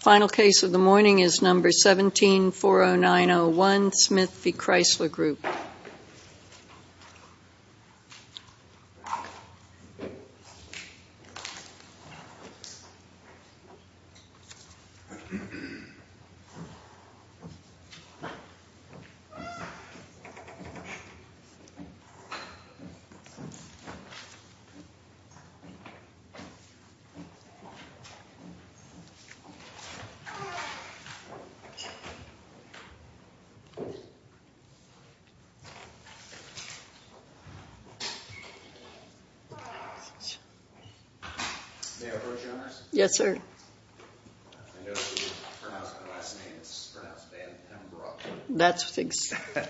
Final case of the morning is number 1740901, Smith v. Chrysler Group.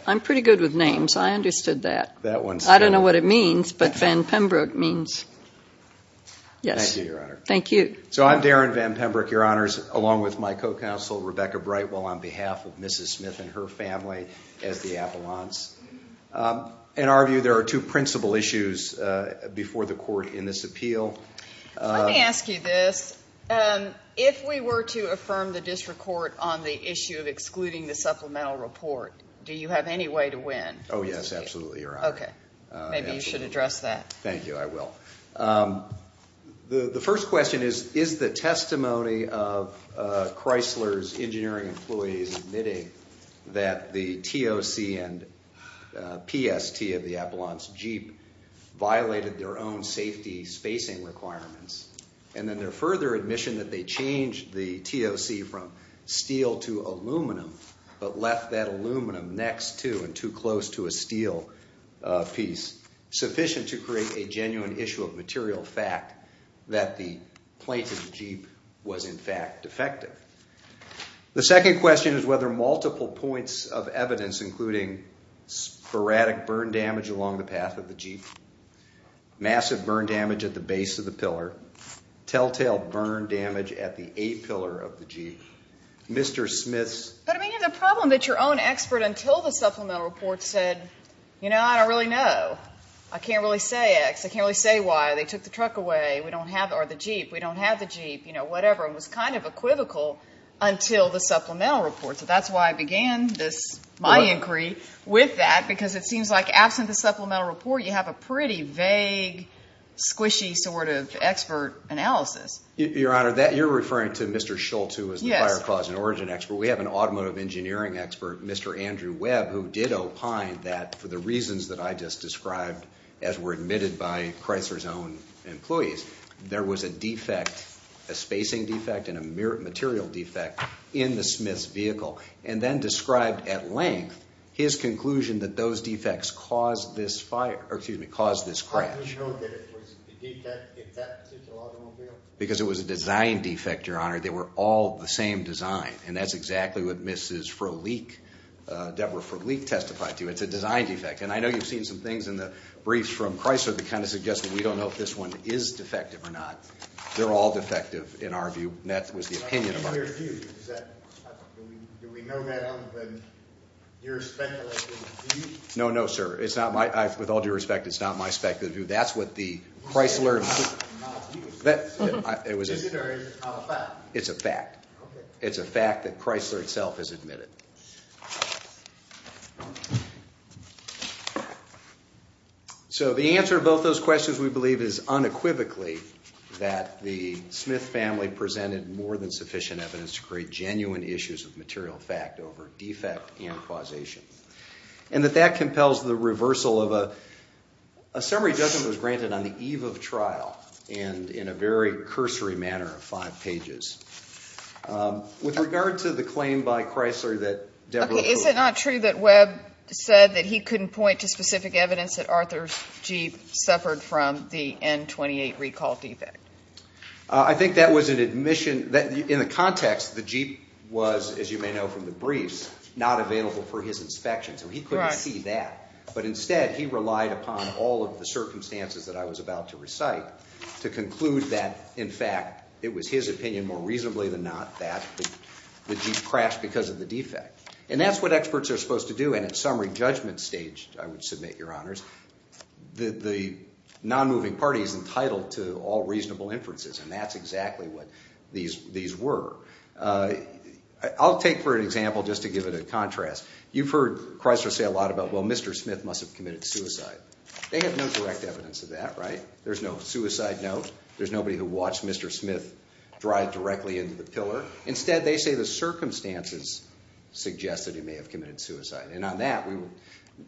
I'm pretty good with names. I understood that. I don't know what it means, but Van Pembroke means. Yes. Thank you, Your Honor. Thank you. So, I'm Darren Van Pembroke, Your Honors, along with my co-counsel, Rebecca Brightwell, on behalf of Mrs. Smith and her family as the appellants. In our view, there are two principal issues before the court in this appeal. Let me ask you this. If we were to affirm the district court on the issue of excluding the supplemental report, do you have any way to win? Oh, yes. Absolutely, Your Honor. Okay. Maybe you should address that. Thank you. I will. The first question is, is the testimony of Chrysler's engineering employees admitting that the TOC and PST of the Appellant's Jeep violated their own safety spacing requirements and then their further admission that they changed the TOC from steel to aluminum but left that aluminum next to and too close to a steel piece sufficient to create a genuine issue of material fact that the plate of the Jeep was, in fact, defective? The second question is whether multiple points of evidence, including sporadic burn damage along the path of the Jeep, massive burn damage at the base of the pillar, telltale burn damage at the A-pillar of the Jeep, Mr. Smith's… But, I mean, the problem that your own expert until the supplemental report said, you know, I don't really know. I can't really say X. I can't really say Y. They took the truck away. We don't have the Jeep. We don't have the Jeep. You know, whatever. It was kind of equivocal until the supplemental report. So that's why I began my inquiry with that because it seems like absent the supplemental report, you have a pretty vague, squishy sort of expert analysis. Your Honor, you're referring to Mr. Schultz, who was the fire cause and origin expert. We have an automotive engineering expert, Mr. Andrew Webb, who did opine that, for the reasons that I just described, as were admitted by Chrysler's own employees, there was a defect, a spacing defect and a material defect, in the Smith's vehicle, and then described at length his conclusion that those defects caused this crash. How do you know that it was a defect if that suits an automobile? Because it was a design defect, Your Honor. They were all the same design, and that's exactly what Mrs. Frohlich, Deborah Frohlich, testified to. It's a design defect, and I know you've seen some things in the briefs from Chrysler that kind of suggest that we don't know if this one is defective or not. They're all defective, in our view, and that was the opinion of our group. Do we know that other than your speculative view? No, no, sir. It's not my, with all due respect, it's not my speculative view. That's what the Chrysler. Is it or is it a fact? It's a fact. Okay. It's a fact that Chrysler itself has admitted. So the answer to both those questions, we believe, is unequivocally that the Smith family presented more than sufficient evidence to create genuine issues of material fact over defect and causation, and that that compels the reversal of a summary judgment which, of course, was granted on the eve of trial and in a very cursory manner of five pages. With regard to the claim by Chrysler that Deborah Frohlich Okay, is it not true that Webb said that he couldn't point to specific evidence that Arthur's Jeep suffered from the N28 recall defect? I think that was an admission. In the context, the Jeep was, as you may know from the briefs, not available for his inspection, so he couldn't see that. But instead, he relied upon all of the circumstances that I was about to recite to conclude that, in fact, it was his opinion more reasonably than not that the Jeep crashed because of the defect. And that's what experts are supposed to do, and at summary judgment stage, I would submit, Your Honors, the nonmoving party is entitled to all reasonable inferences, and that's exactly what these were. I'll take for an example just to give it a contrast. You've heard Chrysler say a lot about, well, Mr. Smith must have committed suicide. They have no direct evidence of that, right? There's no suicide note. There's nobody who watched Mr. Smith drive directly into the pillar. Instead, they say the circumstances suggest that he may have committed suicide, and on that,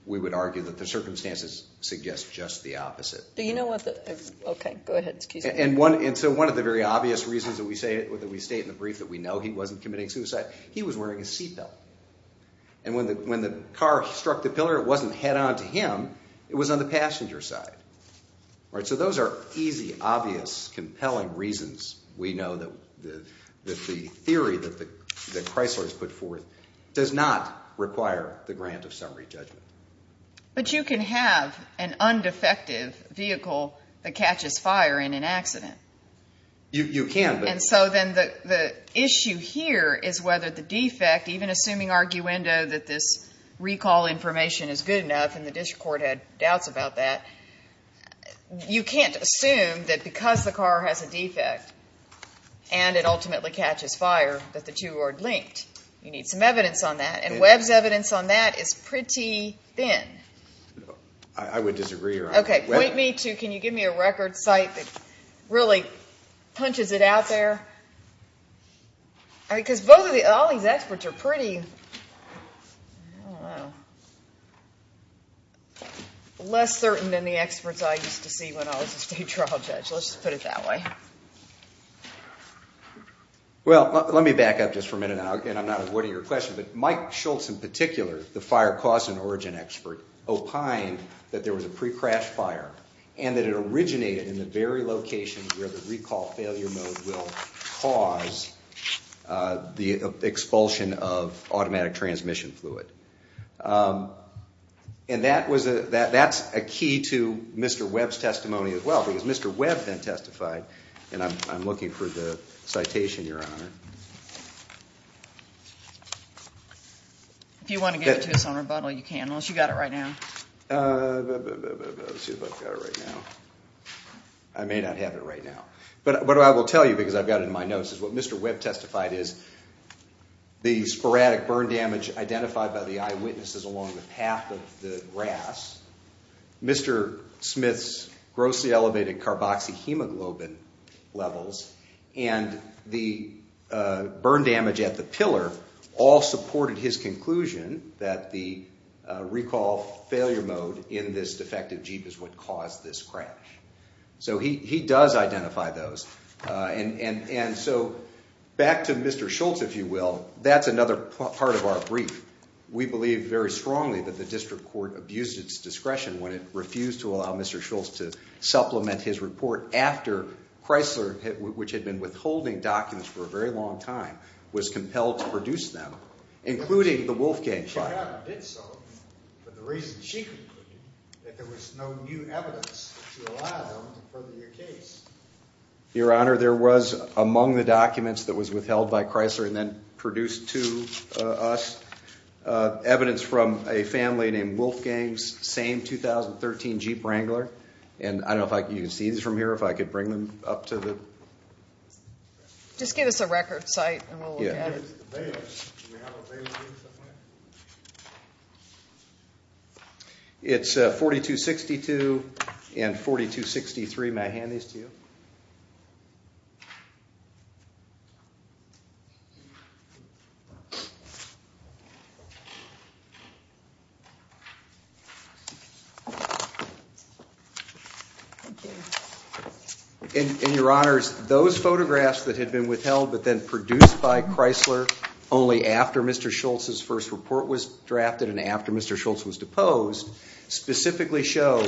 we would argue that the circumstances suggest just the opposite. Do you know what the, okay, go ahead. And so one of the very obvious reasons that we state in the brief that we know he wasn't committing suicide, he was wearing a seatbelt. And when the car struck the pillar, it wasn't head on to him. It was on the passenger side. All right, so those are easy, obvious, compelling reasons we know that the theory that Chrysler has put forth does not require the grant of summary judgment. But you can have an undefective vehicle that catches fire in an accident. You can. And so then the issue here is whether the defect, even assuming arguendo that this recall information is good enough, and the district court had doubts about that, you can't assume that because the car has a defect and it ultimately catches fire that the two are linked. You need some evidence on that, and Webb's evidence on that is pretty thin. I would disagree around that. Okay, point me to, can you give me a record site that really punches it out there? Because all these experts are pretty, I don't know, less certain than the experts I used to see when I was a state trial judge. Let's just put it that way. Well, let me back up just for a minute, and I'm not avoiding your question, but Mike Schultz in particular, the fire cause and origin expert, opined that there was a pre-crash fire and that it originated in the very location where the recall failure mode will cause the expulsion of automatic transmission fluid. And that's a key to Mr. Webb's testimony as well, because Mr. Webb then testified, and I'm looking for the citation, Your Honor. If you want to give it to us on rebuttal, you can, unless you've got it right now. Let's see if I've got it right now. I may not have it right now. But what I will tell you, because I've got it in my notes, is what Mr. Webb testified is the sporadic burn damage identified by the eyewitnesses along the path of the grass, Mr. Smith's grossly elevated carboxyhemoglobin levels, and the burn damage at the pillar all supported his conclusion that the recall failure mode in this defective Jeep is what caused this crash. So he does identify those. And so back to Mr. Schultz, if you will, that's another part of our brief. We believe very strongly that the district court abused its discretion when it refused to allow Mr. Schultz to supplement his report after Chrysler, which had been withholding documents for a very long time, was compelled to produce them, including the Wolfgang file. It did so for the reason she concluded, that there was no new evidence to allow them to further your case. Your Honor, there was, among the documents that was withheld by Chrysler and then produced to us, evidence from a family named Wolfgang's same 2013 Jeep Wrangler. And I don't know if you can see these from here, if I could bring them up to the... Just give us a record site and we'll look at it. It's 4262 and 4263. May I hand these to you? Thank you. And Your Honors, those photographs that had been withheld but then produced by Chrysler only after Mr. Schultz's first report was drafted and after Mr. Schultz was deposed, specifically show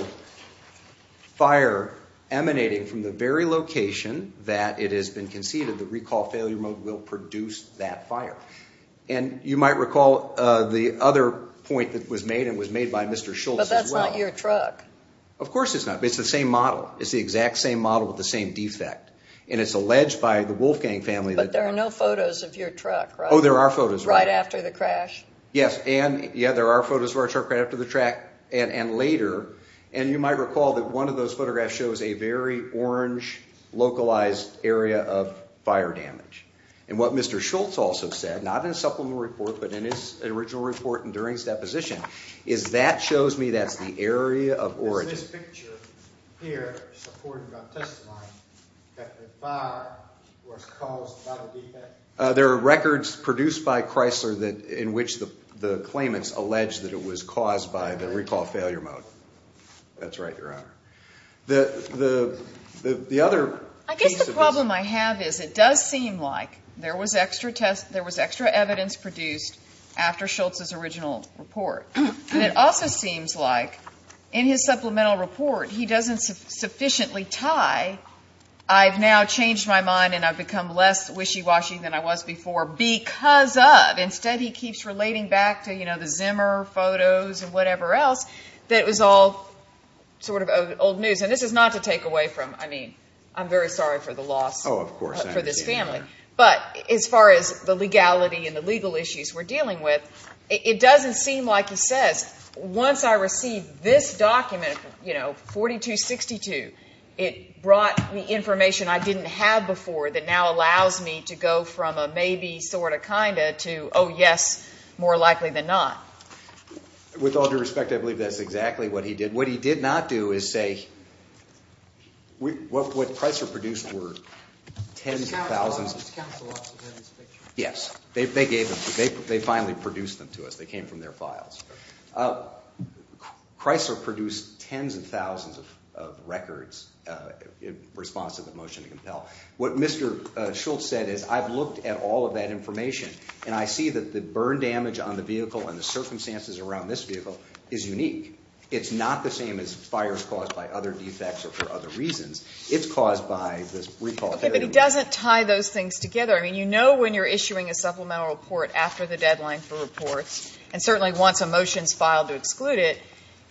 fire emanating from the very location that it has been conceded where the recall failure mode will produce that fire. And you might recall the other point that was made, and was made by Mr. Schultz as well. But that's not your truck. Of course it's not. It's the same model. It's the exact same model with the same defect. And it's alleged by the Wolfgang family that... But there are no photos of your truck, right? Oh, there are photos. Right after the crash? Yes. And, yeah, there are photos of our truck right after the crash and later. And you might recall that one of those photographs shows a very orange localized area of fire damage. And what Mr. Schultz also said, not in his supplemental report, but in his original report and during his deposition, is that shows me that's the area of origin. Is this picture here supported by testimony that the fire was caused by the defect? There are records produced by Chrysler in which the claimants allege that it was caused by the recall failure mode. That's right, Your Honor. The other piece of this... I guess the problem I have is it does seem like there was extra evidence produced after Schultz's original report. And it also seems like in his supplemental report he doesn't sufficiently tie, I've now changed my mind and I've become less wishy-washy than I was before because of, instead he keeps relating back to, you know, the Zimmer photos and whatever else, that it was all sort of old news. And this is not to take away from, I mean, I'm very sorry for the loss for this family. But as far as the legality and the legal issues we're dealing with, it doesn't seem like he says once I receive this document, you know, 4262, it brought me information I didn't have before that now allows me to go from a maybe, sort of, kind of, to, oh, yes, more likely than not. With all due respect, I believe that's exactly what he did. What he did not do is say what Chrysler produced were tens of thousands of... Mr. Counselor, did Mr. Counselor also hear this picture? Yes, they gave them to us. They finally produced them to us. They came from their files. Chrysler produced tens of thousands of records in response to the motion to compel. What Mr. Schultz said is I've looked at all of that information, and I see that the burn damage on the vehicle and the circumstances around this vehicle is unique. It's not the same as fires caused by other defects or for other reasons. It's caused by this recall failure. Okay, but he doesn't tie those things together. I mean, you know when you're issuing a supplemental report after the deadline for reports, and certainly once a motion is filed to exclude it,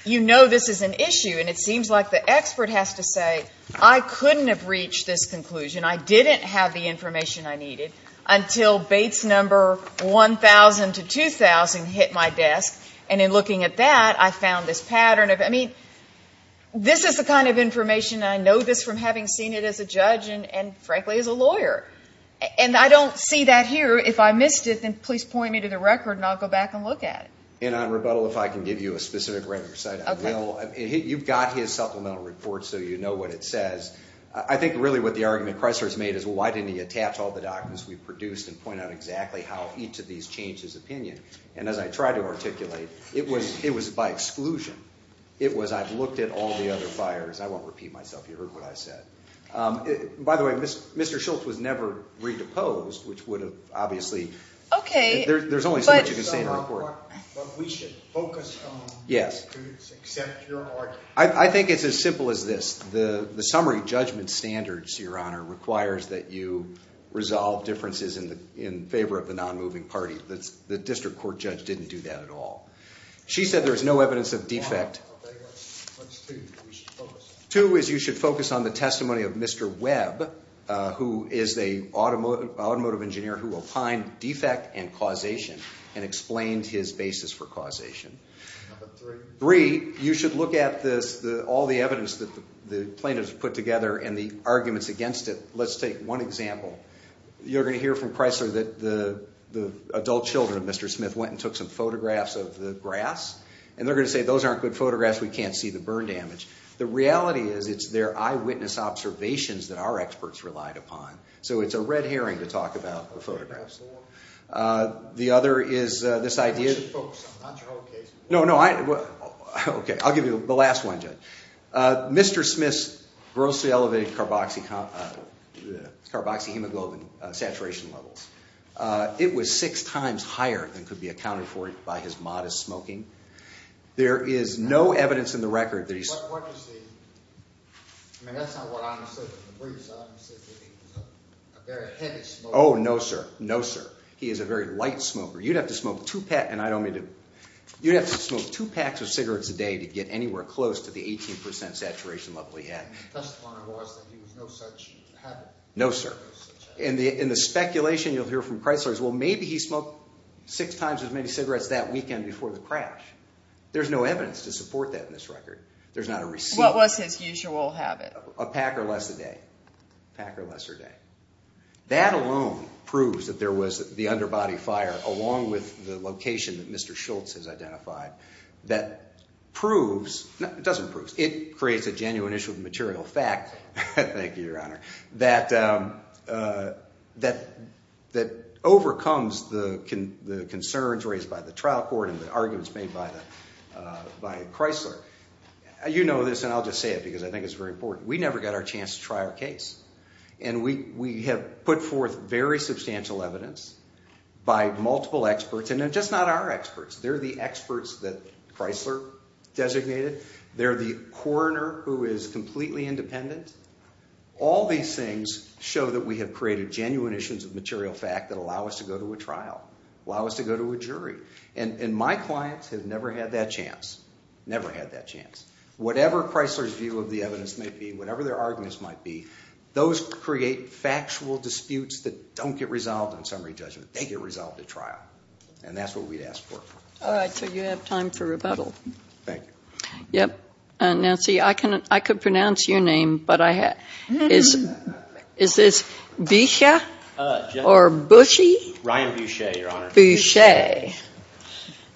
you know this is an issue, and it seems like the expert has to say I couldn't have reached this conclusion. I didn't have the information I needed until Bates number 1,000 to 2,000 hit my desk, and in looking at that, I found this pattern. I mean, this is the kind of information, and I know this from having seen it as a judge and, frankly, as a lawyer, and I don't see that here. If I missed it, then please point me to the record, and I'll go back and look at it. And on rebuttal, if I can give you a specific record site, I will. Okay. You've got his supplemental report so you know what it says. I think really what the argument Chrysler's made is, well, why didn't he attach all the documents we produced and point out exactly how each of these changed his opinion? And as I try to articulate, it was by exclusion. It was I've looked at all the other fires. I won't repeat myself. You heard what I said. By the way, Mr. Schultz was never re-deposed, which would have obviously. Okay. There's only so much you can say in a report. But we should focus on the disputes except your argument. I think it's as simple as this. The summary judgment standards, Your Honor, requires that you resolve differences in favor of the non-moving party. The district court judge didn't do that at all. She said there's no evidence of defect. Two is you should focus on the testimony of Mr. Webb, who is an automotive engineer who opined defect and causation and explained his basis for causation. Three, you should look at all the evidence that the plaintiffs put together and the arguments against it. Let's take one example. You're going to hear from Chrysler that the adult children of Mr. Smith went and took some photographs of the grass, and they're going to say those aren't good photographs. We can't see the burn damage. The reality is it's their eyewitness observations that our experts relied upon. So it's a red herring to talk about the photographs. The other is this idea. You should focus on not your own case. No, no. Okay. I'll give you the last one, Judge. Mr. Smith's grossly elevated carboxyhemoglobin saturation levels. It was six times higher than could be accounted for by his modest smoking. There is no evidence in the record that he's— Oh, no, sir. No, sir. He is a very light smoker. You'd have to smoke two packs of cigarettes a day to get anywhere close to the 18% saturation level he had. No, sir. In the speculation you'll hear from Chrysler is, well, maybe he smoked six times as many cigarettes that weekend before the crash. There's no evidence to support that in this record. There's not a receipt. What was his usual habit? A pack or less a day. A pack or less a day. That alone proves that there was the underbody fire along with the location that Mr. Schultz has identified that proves—it doesn't prove. It creates a genuine issue of material fact— that overcomes the concerns raised by the trial court and the arguments made by Chrysler. You know this, and I'll just say it because I think it's very important. We never got our chance to try our case, and we have put forth very substantial evidence by multiple experts, and they're just not our experts. They're the experts that Chrysler designated. They're the coroner who is completely independent. All these things show that we have created genuine issues of material fact that allow us to go to a trial, allow us to go to a jury, and my clients have never had that chance, never had that chance. Whatever Chrysler's view of the evidence may be, whatever their arguments might be, those create factual disputes that don't get resolved in summary judgment. They get resolved at trial, and that's what we'd ask for. All right, so you have time for rebuttal. Thank you. Yep. Nancy, I could pronounce your name, but I have to. Is this Bisha or Bushy? Ryan Boucher, Your Honor. Boucher.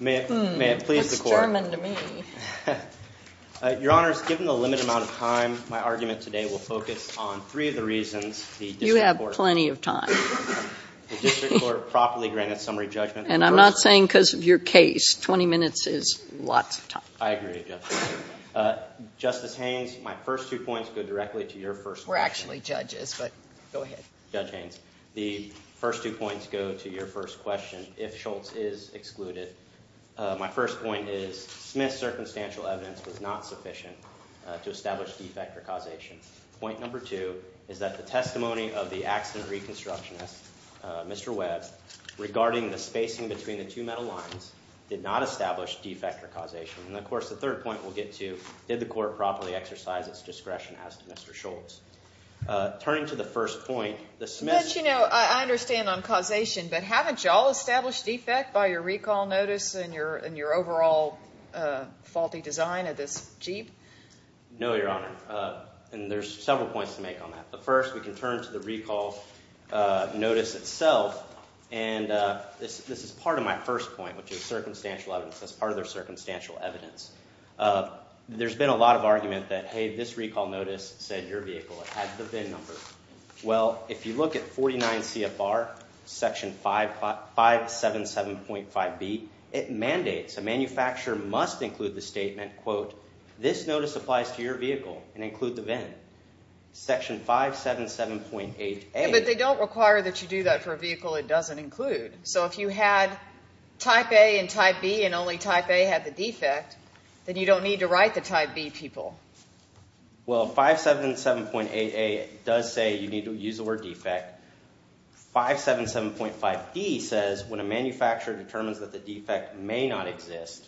May it please the court. That's German to me. Your Honors, given the limited amount of time, my argument today will focus on three of the reasons the district court. You have plenty of time. The district court properly granted summary judgment. And I'm not saying because of your case. 20 minutes is lots of time. I agree with you. Justice Haynes, my first two points go directly to your first question. We're actually judges, but go ahead. Judge Haynes, the first two points go to your first question. If Schultz is excluded, my first point is, Smith's circumstantial evidence was not sufficient to establish defect or causation. Point number two is that the testimony of the accident reconstructionist, Mr. Webb, regarding the spacing between the two metal lines, did not establish defect or causation. And, of course, the third point we'll get to, did the court properly exercise its discretion as to Mr. Schultz? Turning to the first point, the Smiths. But, you know, I understand on causation. But haven't you all established defect by your recall notice and your overall faulty design of this Jeep? No, Your Honor. And there's several points to make on that. The first, we can turn to the recall notice itself. And this is part of my first point, which is circumstantial evidence. That's part of their circumstantial evidence. There's been a lot of argument that, hey, this recall notice said your vehicle had the VIN number. Well, if you look at 49 CFR, Section 577.5B, it mandates, a manufacturer must include the statement, quote, this notice applies to your vehicle and include the VIN. Section 577.8A. But they don't require that you do that for a vehicle it doesn't include. So if you had type A and type B and only type A had the defect, then you don't need to write the type B people. Well, 577.8A does say you need to use the word defect. 577.5D says when a manufacturer determines that the defect may not exist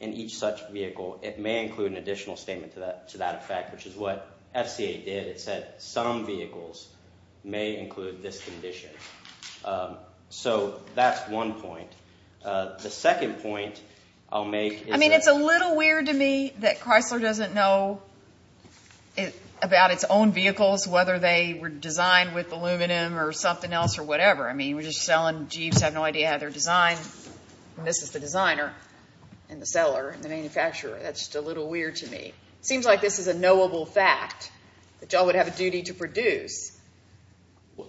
in each such vehicle, it may include an additional statement to that effect, which is what FCA did. It said some vehicles may include this condition. So that's one point. The second point I'll make is that. I mean, it's a little weird to me that Chrysler doesn't know about its own vehicles, whether they were designed with aluminum or something else or whatever. I mean, we're just selling Jeeps, have no idea how they're designed, and this is the designer and the seller and the manufacturer. That's just a little weird to me. It seems like this is a knowable fact that y'all would have a duty to produce.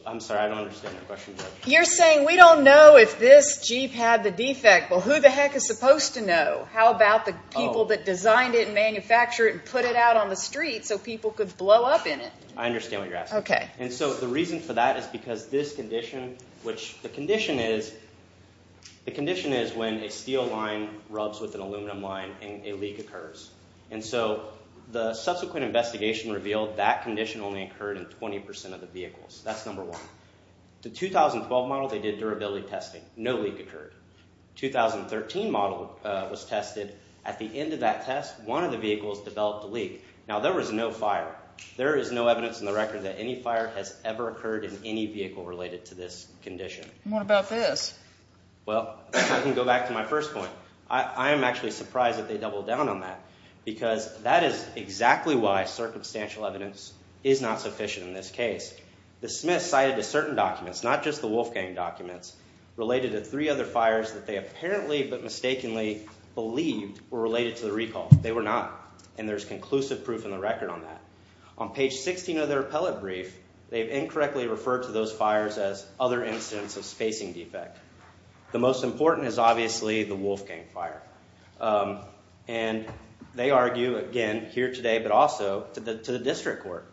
I'm sorry, I don't understand your question. You're saying we don't know if this Jeep had the defect. Well, who the heck is supposed to know? How about the people that designed it and manufactured it and put it out on the street so people could blow up in it? I understand what you're asking. Okay. And so the reason for that is because this condition, which the condition is, the condition is when a steel line rubs with an aluminum line and a leak occurs. And so the subsequent investigation revealed that condition only occurred in 20% of the vehicles. That's number one. The 2012 model, they did durability testing. No leak occurred. The 2013 model was tested. At the end of that test, one of the vehicles developed a leak. Now, there was no fire. There is no evidence in the record that any fire has ever occurred in any vehicle related to this condition. What about this? Well, I can go back to my first point. I am actually surprised that they doubled down on that because that is exactly why circumstantial evidence is not sufficient in this case. The Smiths cited certain documents, not just the Wolfgang documents, related to three other fires that they apparently but mistakenly believed were related to the recall. They were not, and there's conclusive proof in the record on that. On page 16 of their appellate brief, they've incorrectly referred to those fires as other incidents of spacing defect. The most important is obviously the Wolfgang fire. They argue, again, here today but also to the district court.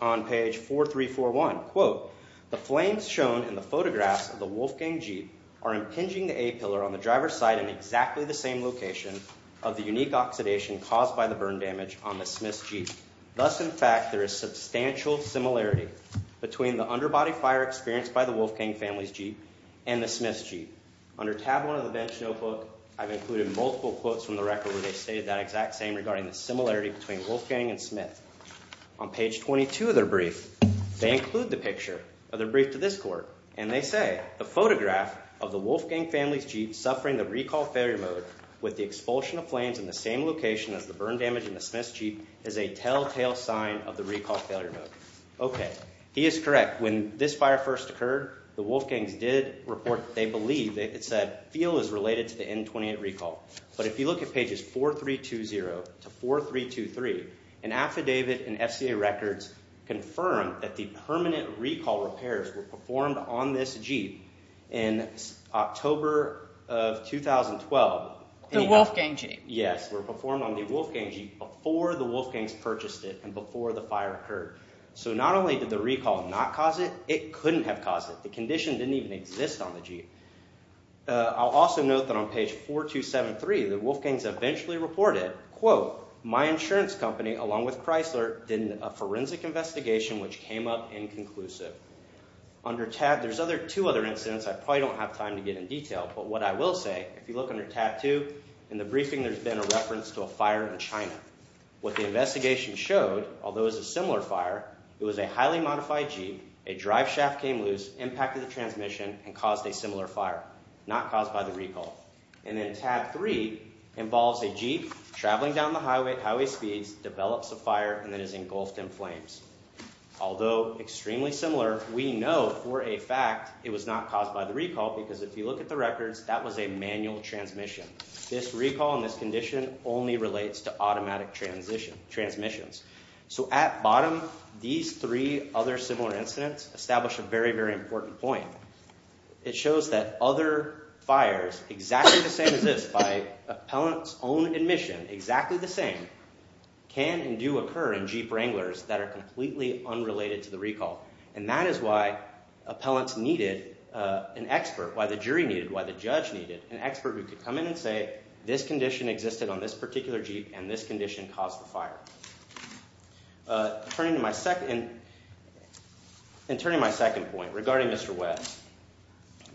On page 4341, quote, the flames shown in the photographs of the Wolfgang Jeep are impinging the A-pillar on the driver's side in exactly the same location of the unique oxidation caused by the burn damage on the Smiths Jeep. Thus, in fact, there is substantial similarity between the underbody fire experienced by the Wolfgang family's Jeep and the Smiths Jeep. Under tab one of the bench notebook, I've included multiple quotes from the record where they've stated that exact same regarding the similarity between Wolfgang and Smith. On page 22 of their brief, they include the picture of their brief to this court, and they say, the photograph of the Wolfgang family's Jeep suffering the recall failure mode with the expulsion of flames in the same location as the burn damage in the Smiths Jeep is a telltale sign of the recall failure mode. Okay. He is correct. When this fire first occurred, the Wolfgangs did report that they believe, it said, feel is related to the N28 recall. But if you look at pages 4320 to 4323, an affidavit in FCA records confirmed that the permanent recall repairs were performed on this Jeep in October of 2012. The Wolfgang Jeep. Yes, were performed on the Wolfgang Jeep before the Wolfgangs purchased it and before the fire occurred. So not only did the recall not cause it, it couldn't have caused it. The condition didn't even exist on the Jeep. I'll also note that on page 4273, the Wolfgangs eventually reported, quote, my insurance company, along with Chrysler, did a forensic investigation, which came up inconclusive. Under tab, there's other two other incidents. I probably don't have time to get in detail, but what I will say, if you look under tab two, in the briefing, there's been a reference to a fire in China. What the investigation showed, although it was a similar fire, it was a highly modified Jeep. A drive shaft came loose, impacted the transmission and caused a similar fire, not caused by the recall. And then tab three involves a Jeep traveling down the highway, highway speeds, develops a fire, and then is engulfed in flames. Although extremely similar, we know for a fact it was not caused by the recall, because if you look at the records, that was a manual transmission. This recall and this condition only relates to automatic transmissions. So at bottom, these three other similar incidents establish a very, very important point. It shows that other fires, exactly the same as this, by appellant's own admission, exactly the same, can and do occur in Jeep Wranglers that are completely unrelated to the recall. And that is why appellants needed an expert, why the jury needed, why the judge needed an expert who could come in and say, this condition existed on this particular Jeep and this condition caused the fire. Turning to my second, and turning to my second point regarding Mr. West.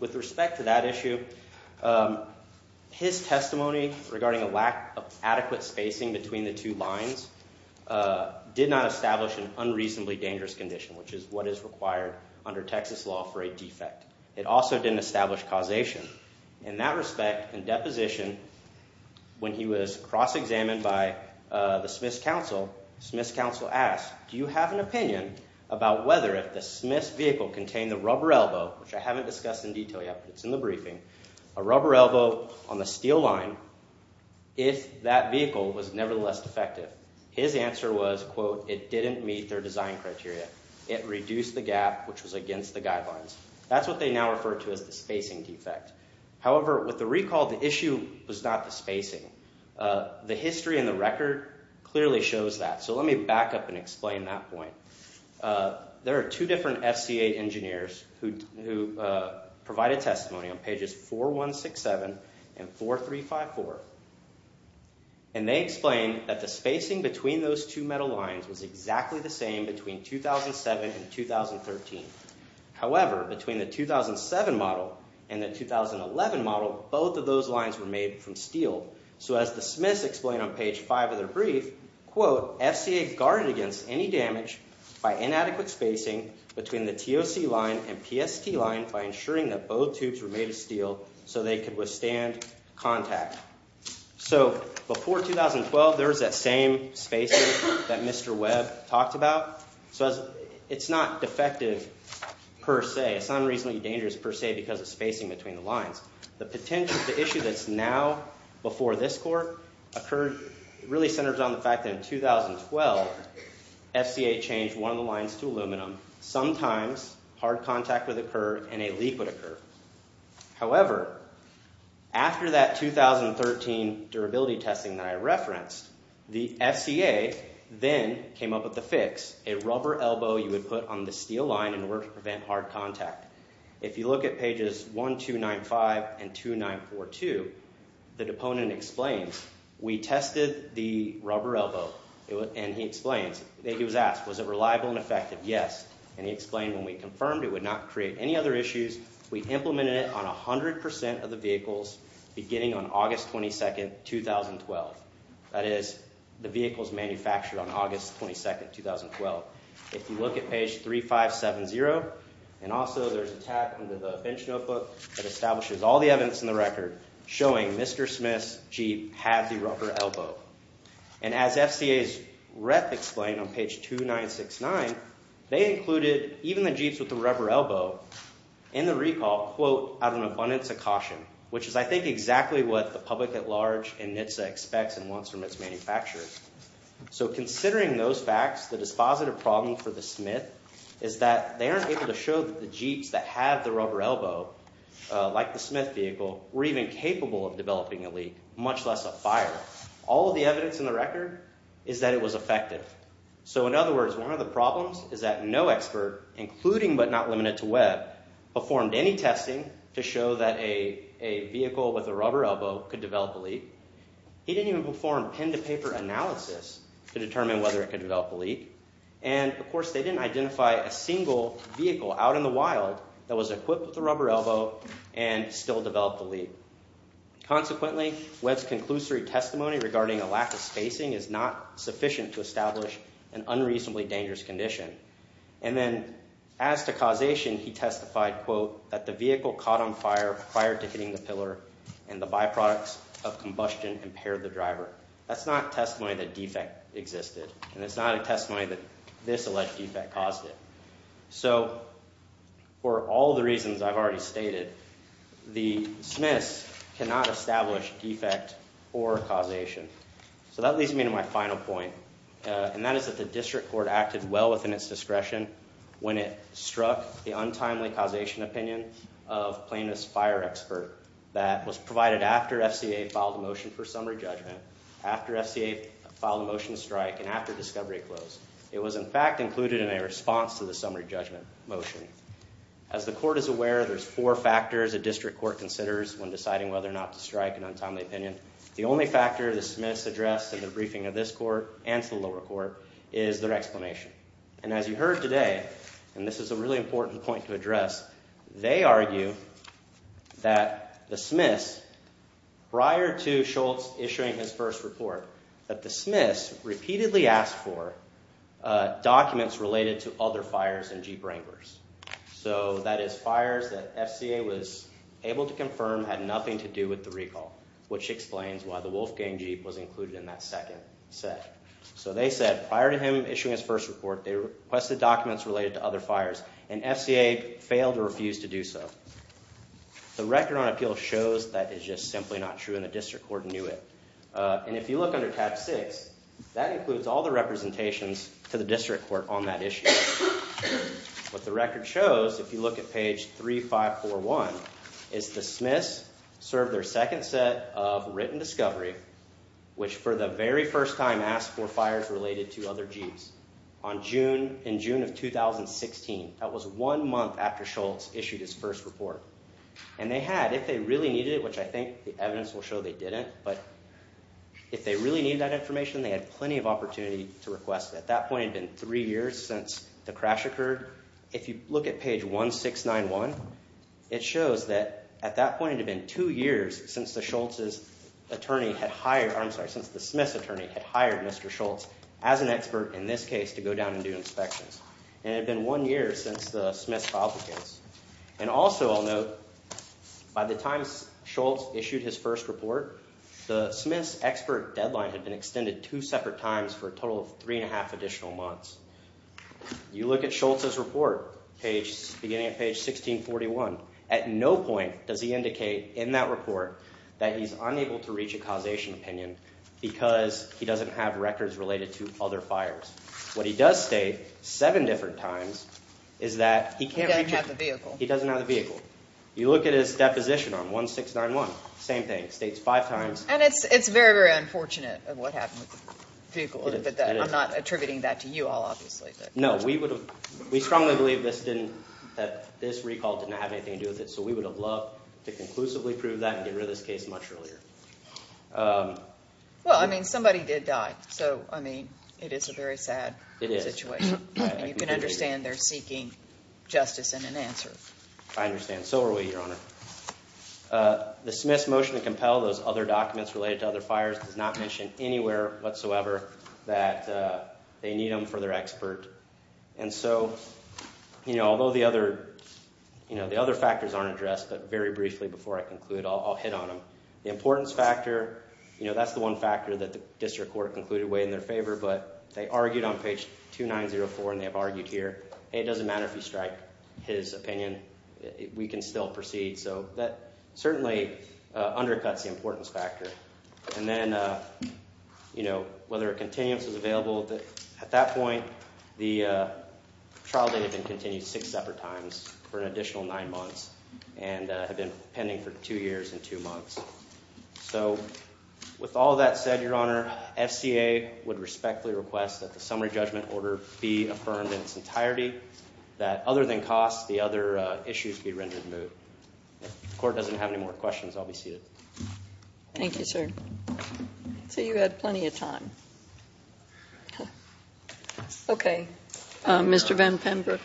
With respect to that issue, his testimony regarding a lack of adequate spacing between the two lines did not establish an unreasonably dangerous condition, which is what is required under Texas law for a defect. It also didn't establish causation. In that respect, in deposition, when he was cross-examined by the Smith's counsel, Smith's counsel asked, do you have an opinion about whether if the Smith's vehicle contained a rubber elbow, which I haven't discussed in detail yet, but it's in the briefing, a rubber elbow on the steel line, if that vehicle was nevertheless defective? His answer was, quote, it didn't meet their design criteria. It reduced the gap, which was against the guidelines. That's what they now refer to as the spacing defect. However, with the recall, the issue was not the spacing. The history and the record clearly shows that, so let me back up and explain that point. There are two different SCA engineers who provided testimony on pages 4167 and 4354, and they explained that the spacing between those two metal lines was exactly the same between 2007 and 2013. However, between the 2007 model and the 2011 model, both of those lines were made from steel. So as the Smith's explained on page 5 of their brief, quote, FCA guarded against any damage by inadequate spacing between the TOC line and PST line by ensuring that both tubes were made of steel so they could withstand contact. So before 2012, there was that same spacing that Mr. Webb talked about. So it's not defective per se. It's not unreasonably dangerous per se because of spacing between the lines. The potential, the issue that's now before this court really centers on the fact that in 2012, FCA changed one of the lines to aluminum. Sometimes hard contact would occur and a leak would occur. However, after that 2013 durability testing that I referenced, the FCA then came up with the fix, a rubber elbow you would put on the steel line in order to prevent hard contact. If you look at pages 1295 and 2942, the deponent explains, we tested the rubber elbow, and he explains, he was asked, was it reliable and effective? Yes. And he explained when we confirmed it would not create any other issues, we implemented it on 100% of the vehicles beginning on August 22, 2012. That is, the vehicles manufactured on August 22, 2012. If you look at page 3570, and also there's a tab under the bench notebook that establishes all the evidence in the record showing Mr. Smith's Jeep had the rubber elbow. And as FCA's rep explained on page 2969, they included even the Jeeps with the rubber elbow in the recall, quote, out of an abundance of caution, which is I think exactly what the public at large and NHTSA expects and wants from its manufacturers. So considering those facts, the dispositive problem for the Smith is that they aren't able to show that the Jeeps that have the rubber elbow, like the Smith vehicle, were even capable of developing a leak, much less a fire. All of the evidence in the record is that it was effective. So in other words, one of the problems is that no expert, including but not limited to Webb, performed any testing to show that a vehicle with a rubber elbow could develop a leak. He didn't even perform pen-to-paper analysis to determine whether it could develop a leak. And, of course, they didn't identify a single vehicle out in the wild that was equipped with a rubber elbow and still developed a leak. Consequently, Webb's conclusory testimony regarding a lack of spacing is not sufficient to establish an unreasonably dangerous condition. And then as to causation, he testified, quote, that the vehicle caught on fire prior to hitting the pillar and the byproducts of combustion impaired the driver. That's not testimony that defect existed, and it's not a testimony that this alleged defect caused it. So for all the reasons I've already stated, the Smiths cannot establish defect or causation. So that leads me to my final point, within its discretion when it struck the untimely causation opinion of plaintiff's fire expert that was provided after FCA filed a motion for summary judgment, after FCA filed a motion to strike, and after discovery closed. It was, in fact, included in a response to the summary judgment motion. As the court is aware, there's four factors a district court considers when deciding whether or not to strike an untimely opinion. The only factor the Smiths addressed in the briefing of this court and to the lower court is their explanation. And as you heard today, and this is a really important point to address, they argue that the Smiths, prior to Schultz issuing his first report, that the Smiths repeatedly asked for documents related to other fires in Jeep Wranglers. So that is fires that FCA was able to confirm had nothing to do with the recall, which explains why the Wolfgang Jeep was included in that second set. So they said, prior to him issuing his first report, they requested documents related to other fires, and FCA failed or refused to do so. The record on appeal shows that is just simply not true, and the district court knew it. And if you look under tab six, that includes all the representations to the district court on that issue. What the record shows, if you look at page 3541, is the Smiths served their second set of written discovery, which for the very first time asked for fires related to other Jeeps. On June, in June of 2016, that was one month after Schultz issued his first report. And they had, if they really needed it, which I think the evidence will show they didn't, but if they really needed that information, they had plenty of opportunity to request it. At that point it had been three years since the crash occurred. If you look at page 1691, it shows that at that point it had been two years since the Smiths attorney had hired Mr. Schultz as an expert in this case to go down and do inspections. And it had been one year since the Smiths filed the case. And also I'll note, by the time Schultz issued his first report, the Smiths expert deadline had been extended two separate times for a total of three and a half additional months. You look at Schultz's report, beginning at page 1641. At no point does he indicate in that report that he's unable to reach a causation opinion because he doesn't have records related to other fires. What he does state, seven different times, is that he can't reach it. He doesn't have the vehicle. He doesn't have the vehicle. You look at his deposition on 1691, same thing. It states five times. And it's very, very unfortunate what happened with the vehicle. I'm not attributing that to you all, obviously. No, we strongly believe that this recall didn't have anything to do with it. So we would have loved to conclusively prove that and get rid of this case much earlier. Well, I mean, somebody did die. So, I mean, it is a very sad situation. And you can understand they're seeking justice and an answer. I understand. So are we, Your Honor. The Smiths' motion to compel those other documents related to other fires does not mention anywhere whatsoever that they need them for their expert. And so, you know, although the other factors aren't addressed, but very briefly before I conclude, I'll hit on them. The importance factor, you know, that's the one factor that the district court concluded weighed in their favor. But they argued on page 2904, and they have argued here, hey, it doesn't matter if you strike his opinion. We can still proceed. So that certainly undercuts the importance factor. And then, you know, whether a continuance is available. At that point, the trial date had been continued six separate times for an additional nine months and had been pending for two years and two months. So with all that said, Your Honor, FCA would respectfully request that the summary judgment order be affirmed in its entirety, that other than costs, the other issues be rendered moot. If the court doesn't have any more questions, I'll be seated. Thank you, sir. So you had plenty of time. Okay. Mr. Van Pember.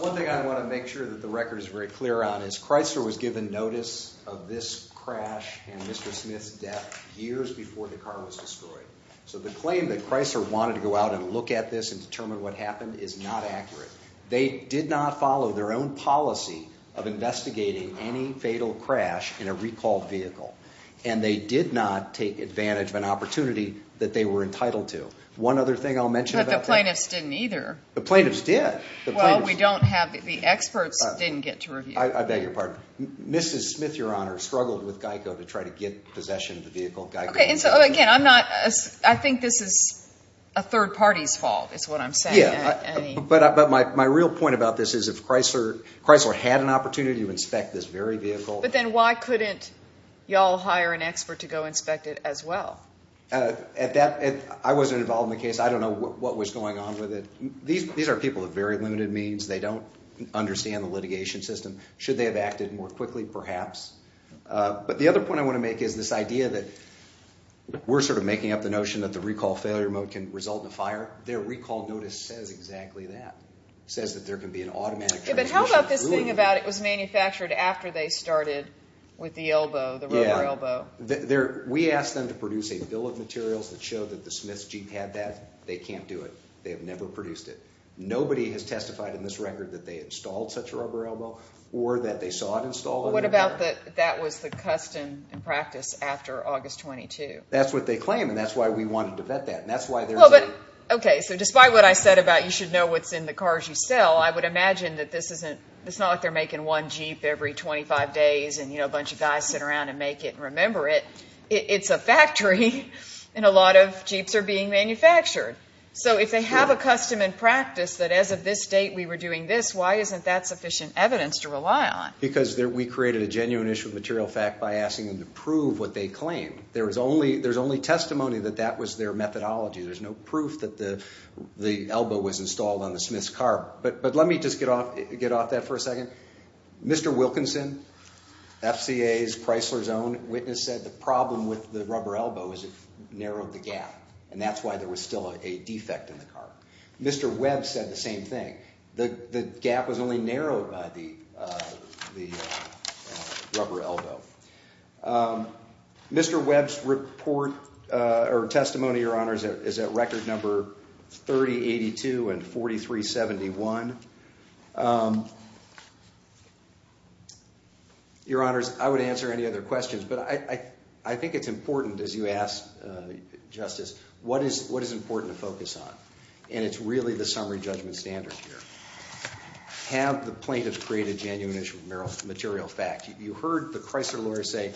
One thing I want to make sure that the record is very clear on is Chrysler was given notice of this crash and Mr. Smith's death years before the car was destroyed. So the claim that Chrysler wanted to go out and look at this and determine what happened is not accurate. They did not follow their own policy of investigating any fatal crash in a recall vehicle. And they did not take advantage of an opportunity that they were entitled to. One other thing I'll mention about that... But the plaintiffs didn't either. The plaintiffs did. Well, we don't have... The experts didn't get to review. I beg your pardon. Mrs. Smith, Your Honor, struggled with GEICO to try to get possession of the vehicle. Okay, and so, again, I'm not... I think this is a third party's fault is what I'm saying. Yeah, but my real point about this is if Chrysler had an opportunity to inspect this very vehicle... to go inspect it as well. I wasn't involved in the case. I don't know what was going on with it. These are people of very limited means. They don't understand the litigation system. Should they have acted more quickly? Perhaps. But the other point I want to make is this idea that we're sort of making up the notion that the recall failure mode can result in a fire. Their recall notice says exactly that. It says that there can be an automatic transmission. Yeah, but how about this thing about it was manufactured after they started with the elbow, the rubber elbow? Yeah. We asked them to produce a bill of materials that showed that the Smith's Jeep had that. They can't do it. They have never produced it. Nobody has testified in this record that they installed such a rubber elbow or that they saw it installed. What about that that was the custom and practice after August 22? That's what they claim, and that's why we wanted to vet that, and that's why there's a... Okay, so despite what I said about you should know what's in the cars you sell, I would imagine that this isn't... and, you know, a bunch of guys sit around and make it and remember it. It's a factory, and a lot of Jeeps are being manufactured. So if they have a custom and practice that as of this date we were doing this, why isn't that sufficient evidence to rely on? Because we created a genuine issue of material fact by asking them to prove what they claimed. There's only testimony that that was their methodology. There's no proof that the elbow was installed on the Smith's car. But let me just get off that for a second. Mr. Wilkinson, FCA's Chrysler's own witness, said the problem with the rubber elbow is it narrowed the gap, and that's why there was still a defect in the car. Mr. Webb said the same thing. The gap was only narrowed by the rubber elbow. Mr. Webb's report or testimony, Your Honor, is at record number 3082 and 4371. Your Honors, I would answer any other questions, but I think it's important, as you asked, Justice, what is important to focus on? And it's really the summary judgment standard here. Have the plaintiff create a genuine issue of material fact. You heard the Chrysler lawyers say,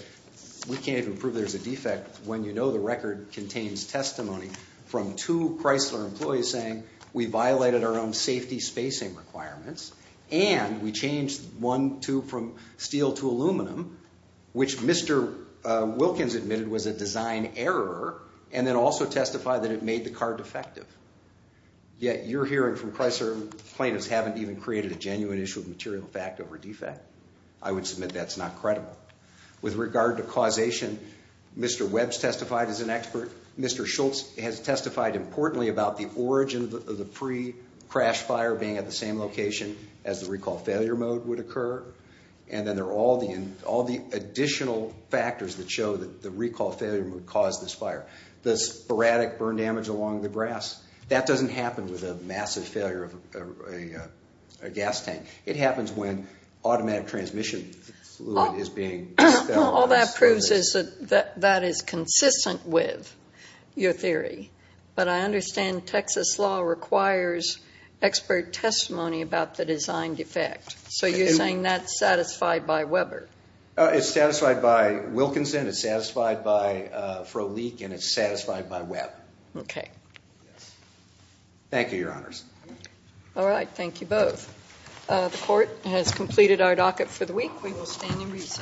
we can't even prove there's a defect when you know the record contains testimony from two Chrysler employees saying, we violated our own safety spacing requirements, and we changed one tube from steel to aluminum, which Mr. Wilkins admitted was a design error, and then also testified that it made the car defective. Yet you're hearing from Chrysler plaintiffs haven't even created a genuine issue of material fact over defect. I would submit that's not credible. With regard to causation, Mr. Webb's testified as an expert. Mr. Schultz has testified importantly about the origin of the pre-crash fire being at the same location as the recall failure mode would occur. And then there are all the additional factors that show that the recall failure mode caused this fire. The sporadic burn damage along the grass, that doesn't happen with a massive failure of a gas tank. It happens when automatic transmission fluid is being expelled. All that proves is that that is consistent with your theory, but I understand Texas law requires expert testimony about the design defect. So you're saying that's satisfied by Weber? It's satisfied by Wilkinson, it's satisfied by Frohlich, and it's satisfied by Webb. Okay. Thank you, Your Honors. All right, thank you both. The court has completed our docket for the week. We will stand and recess.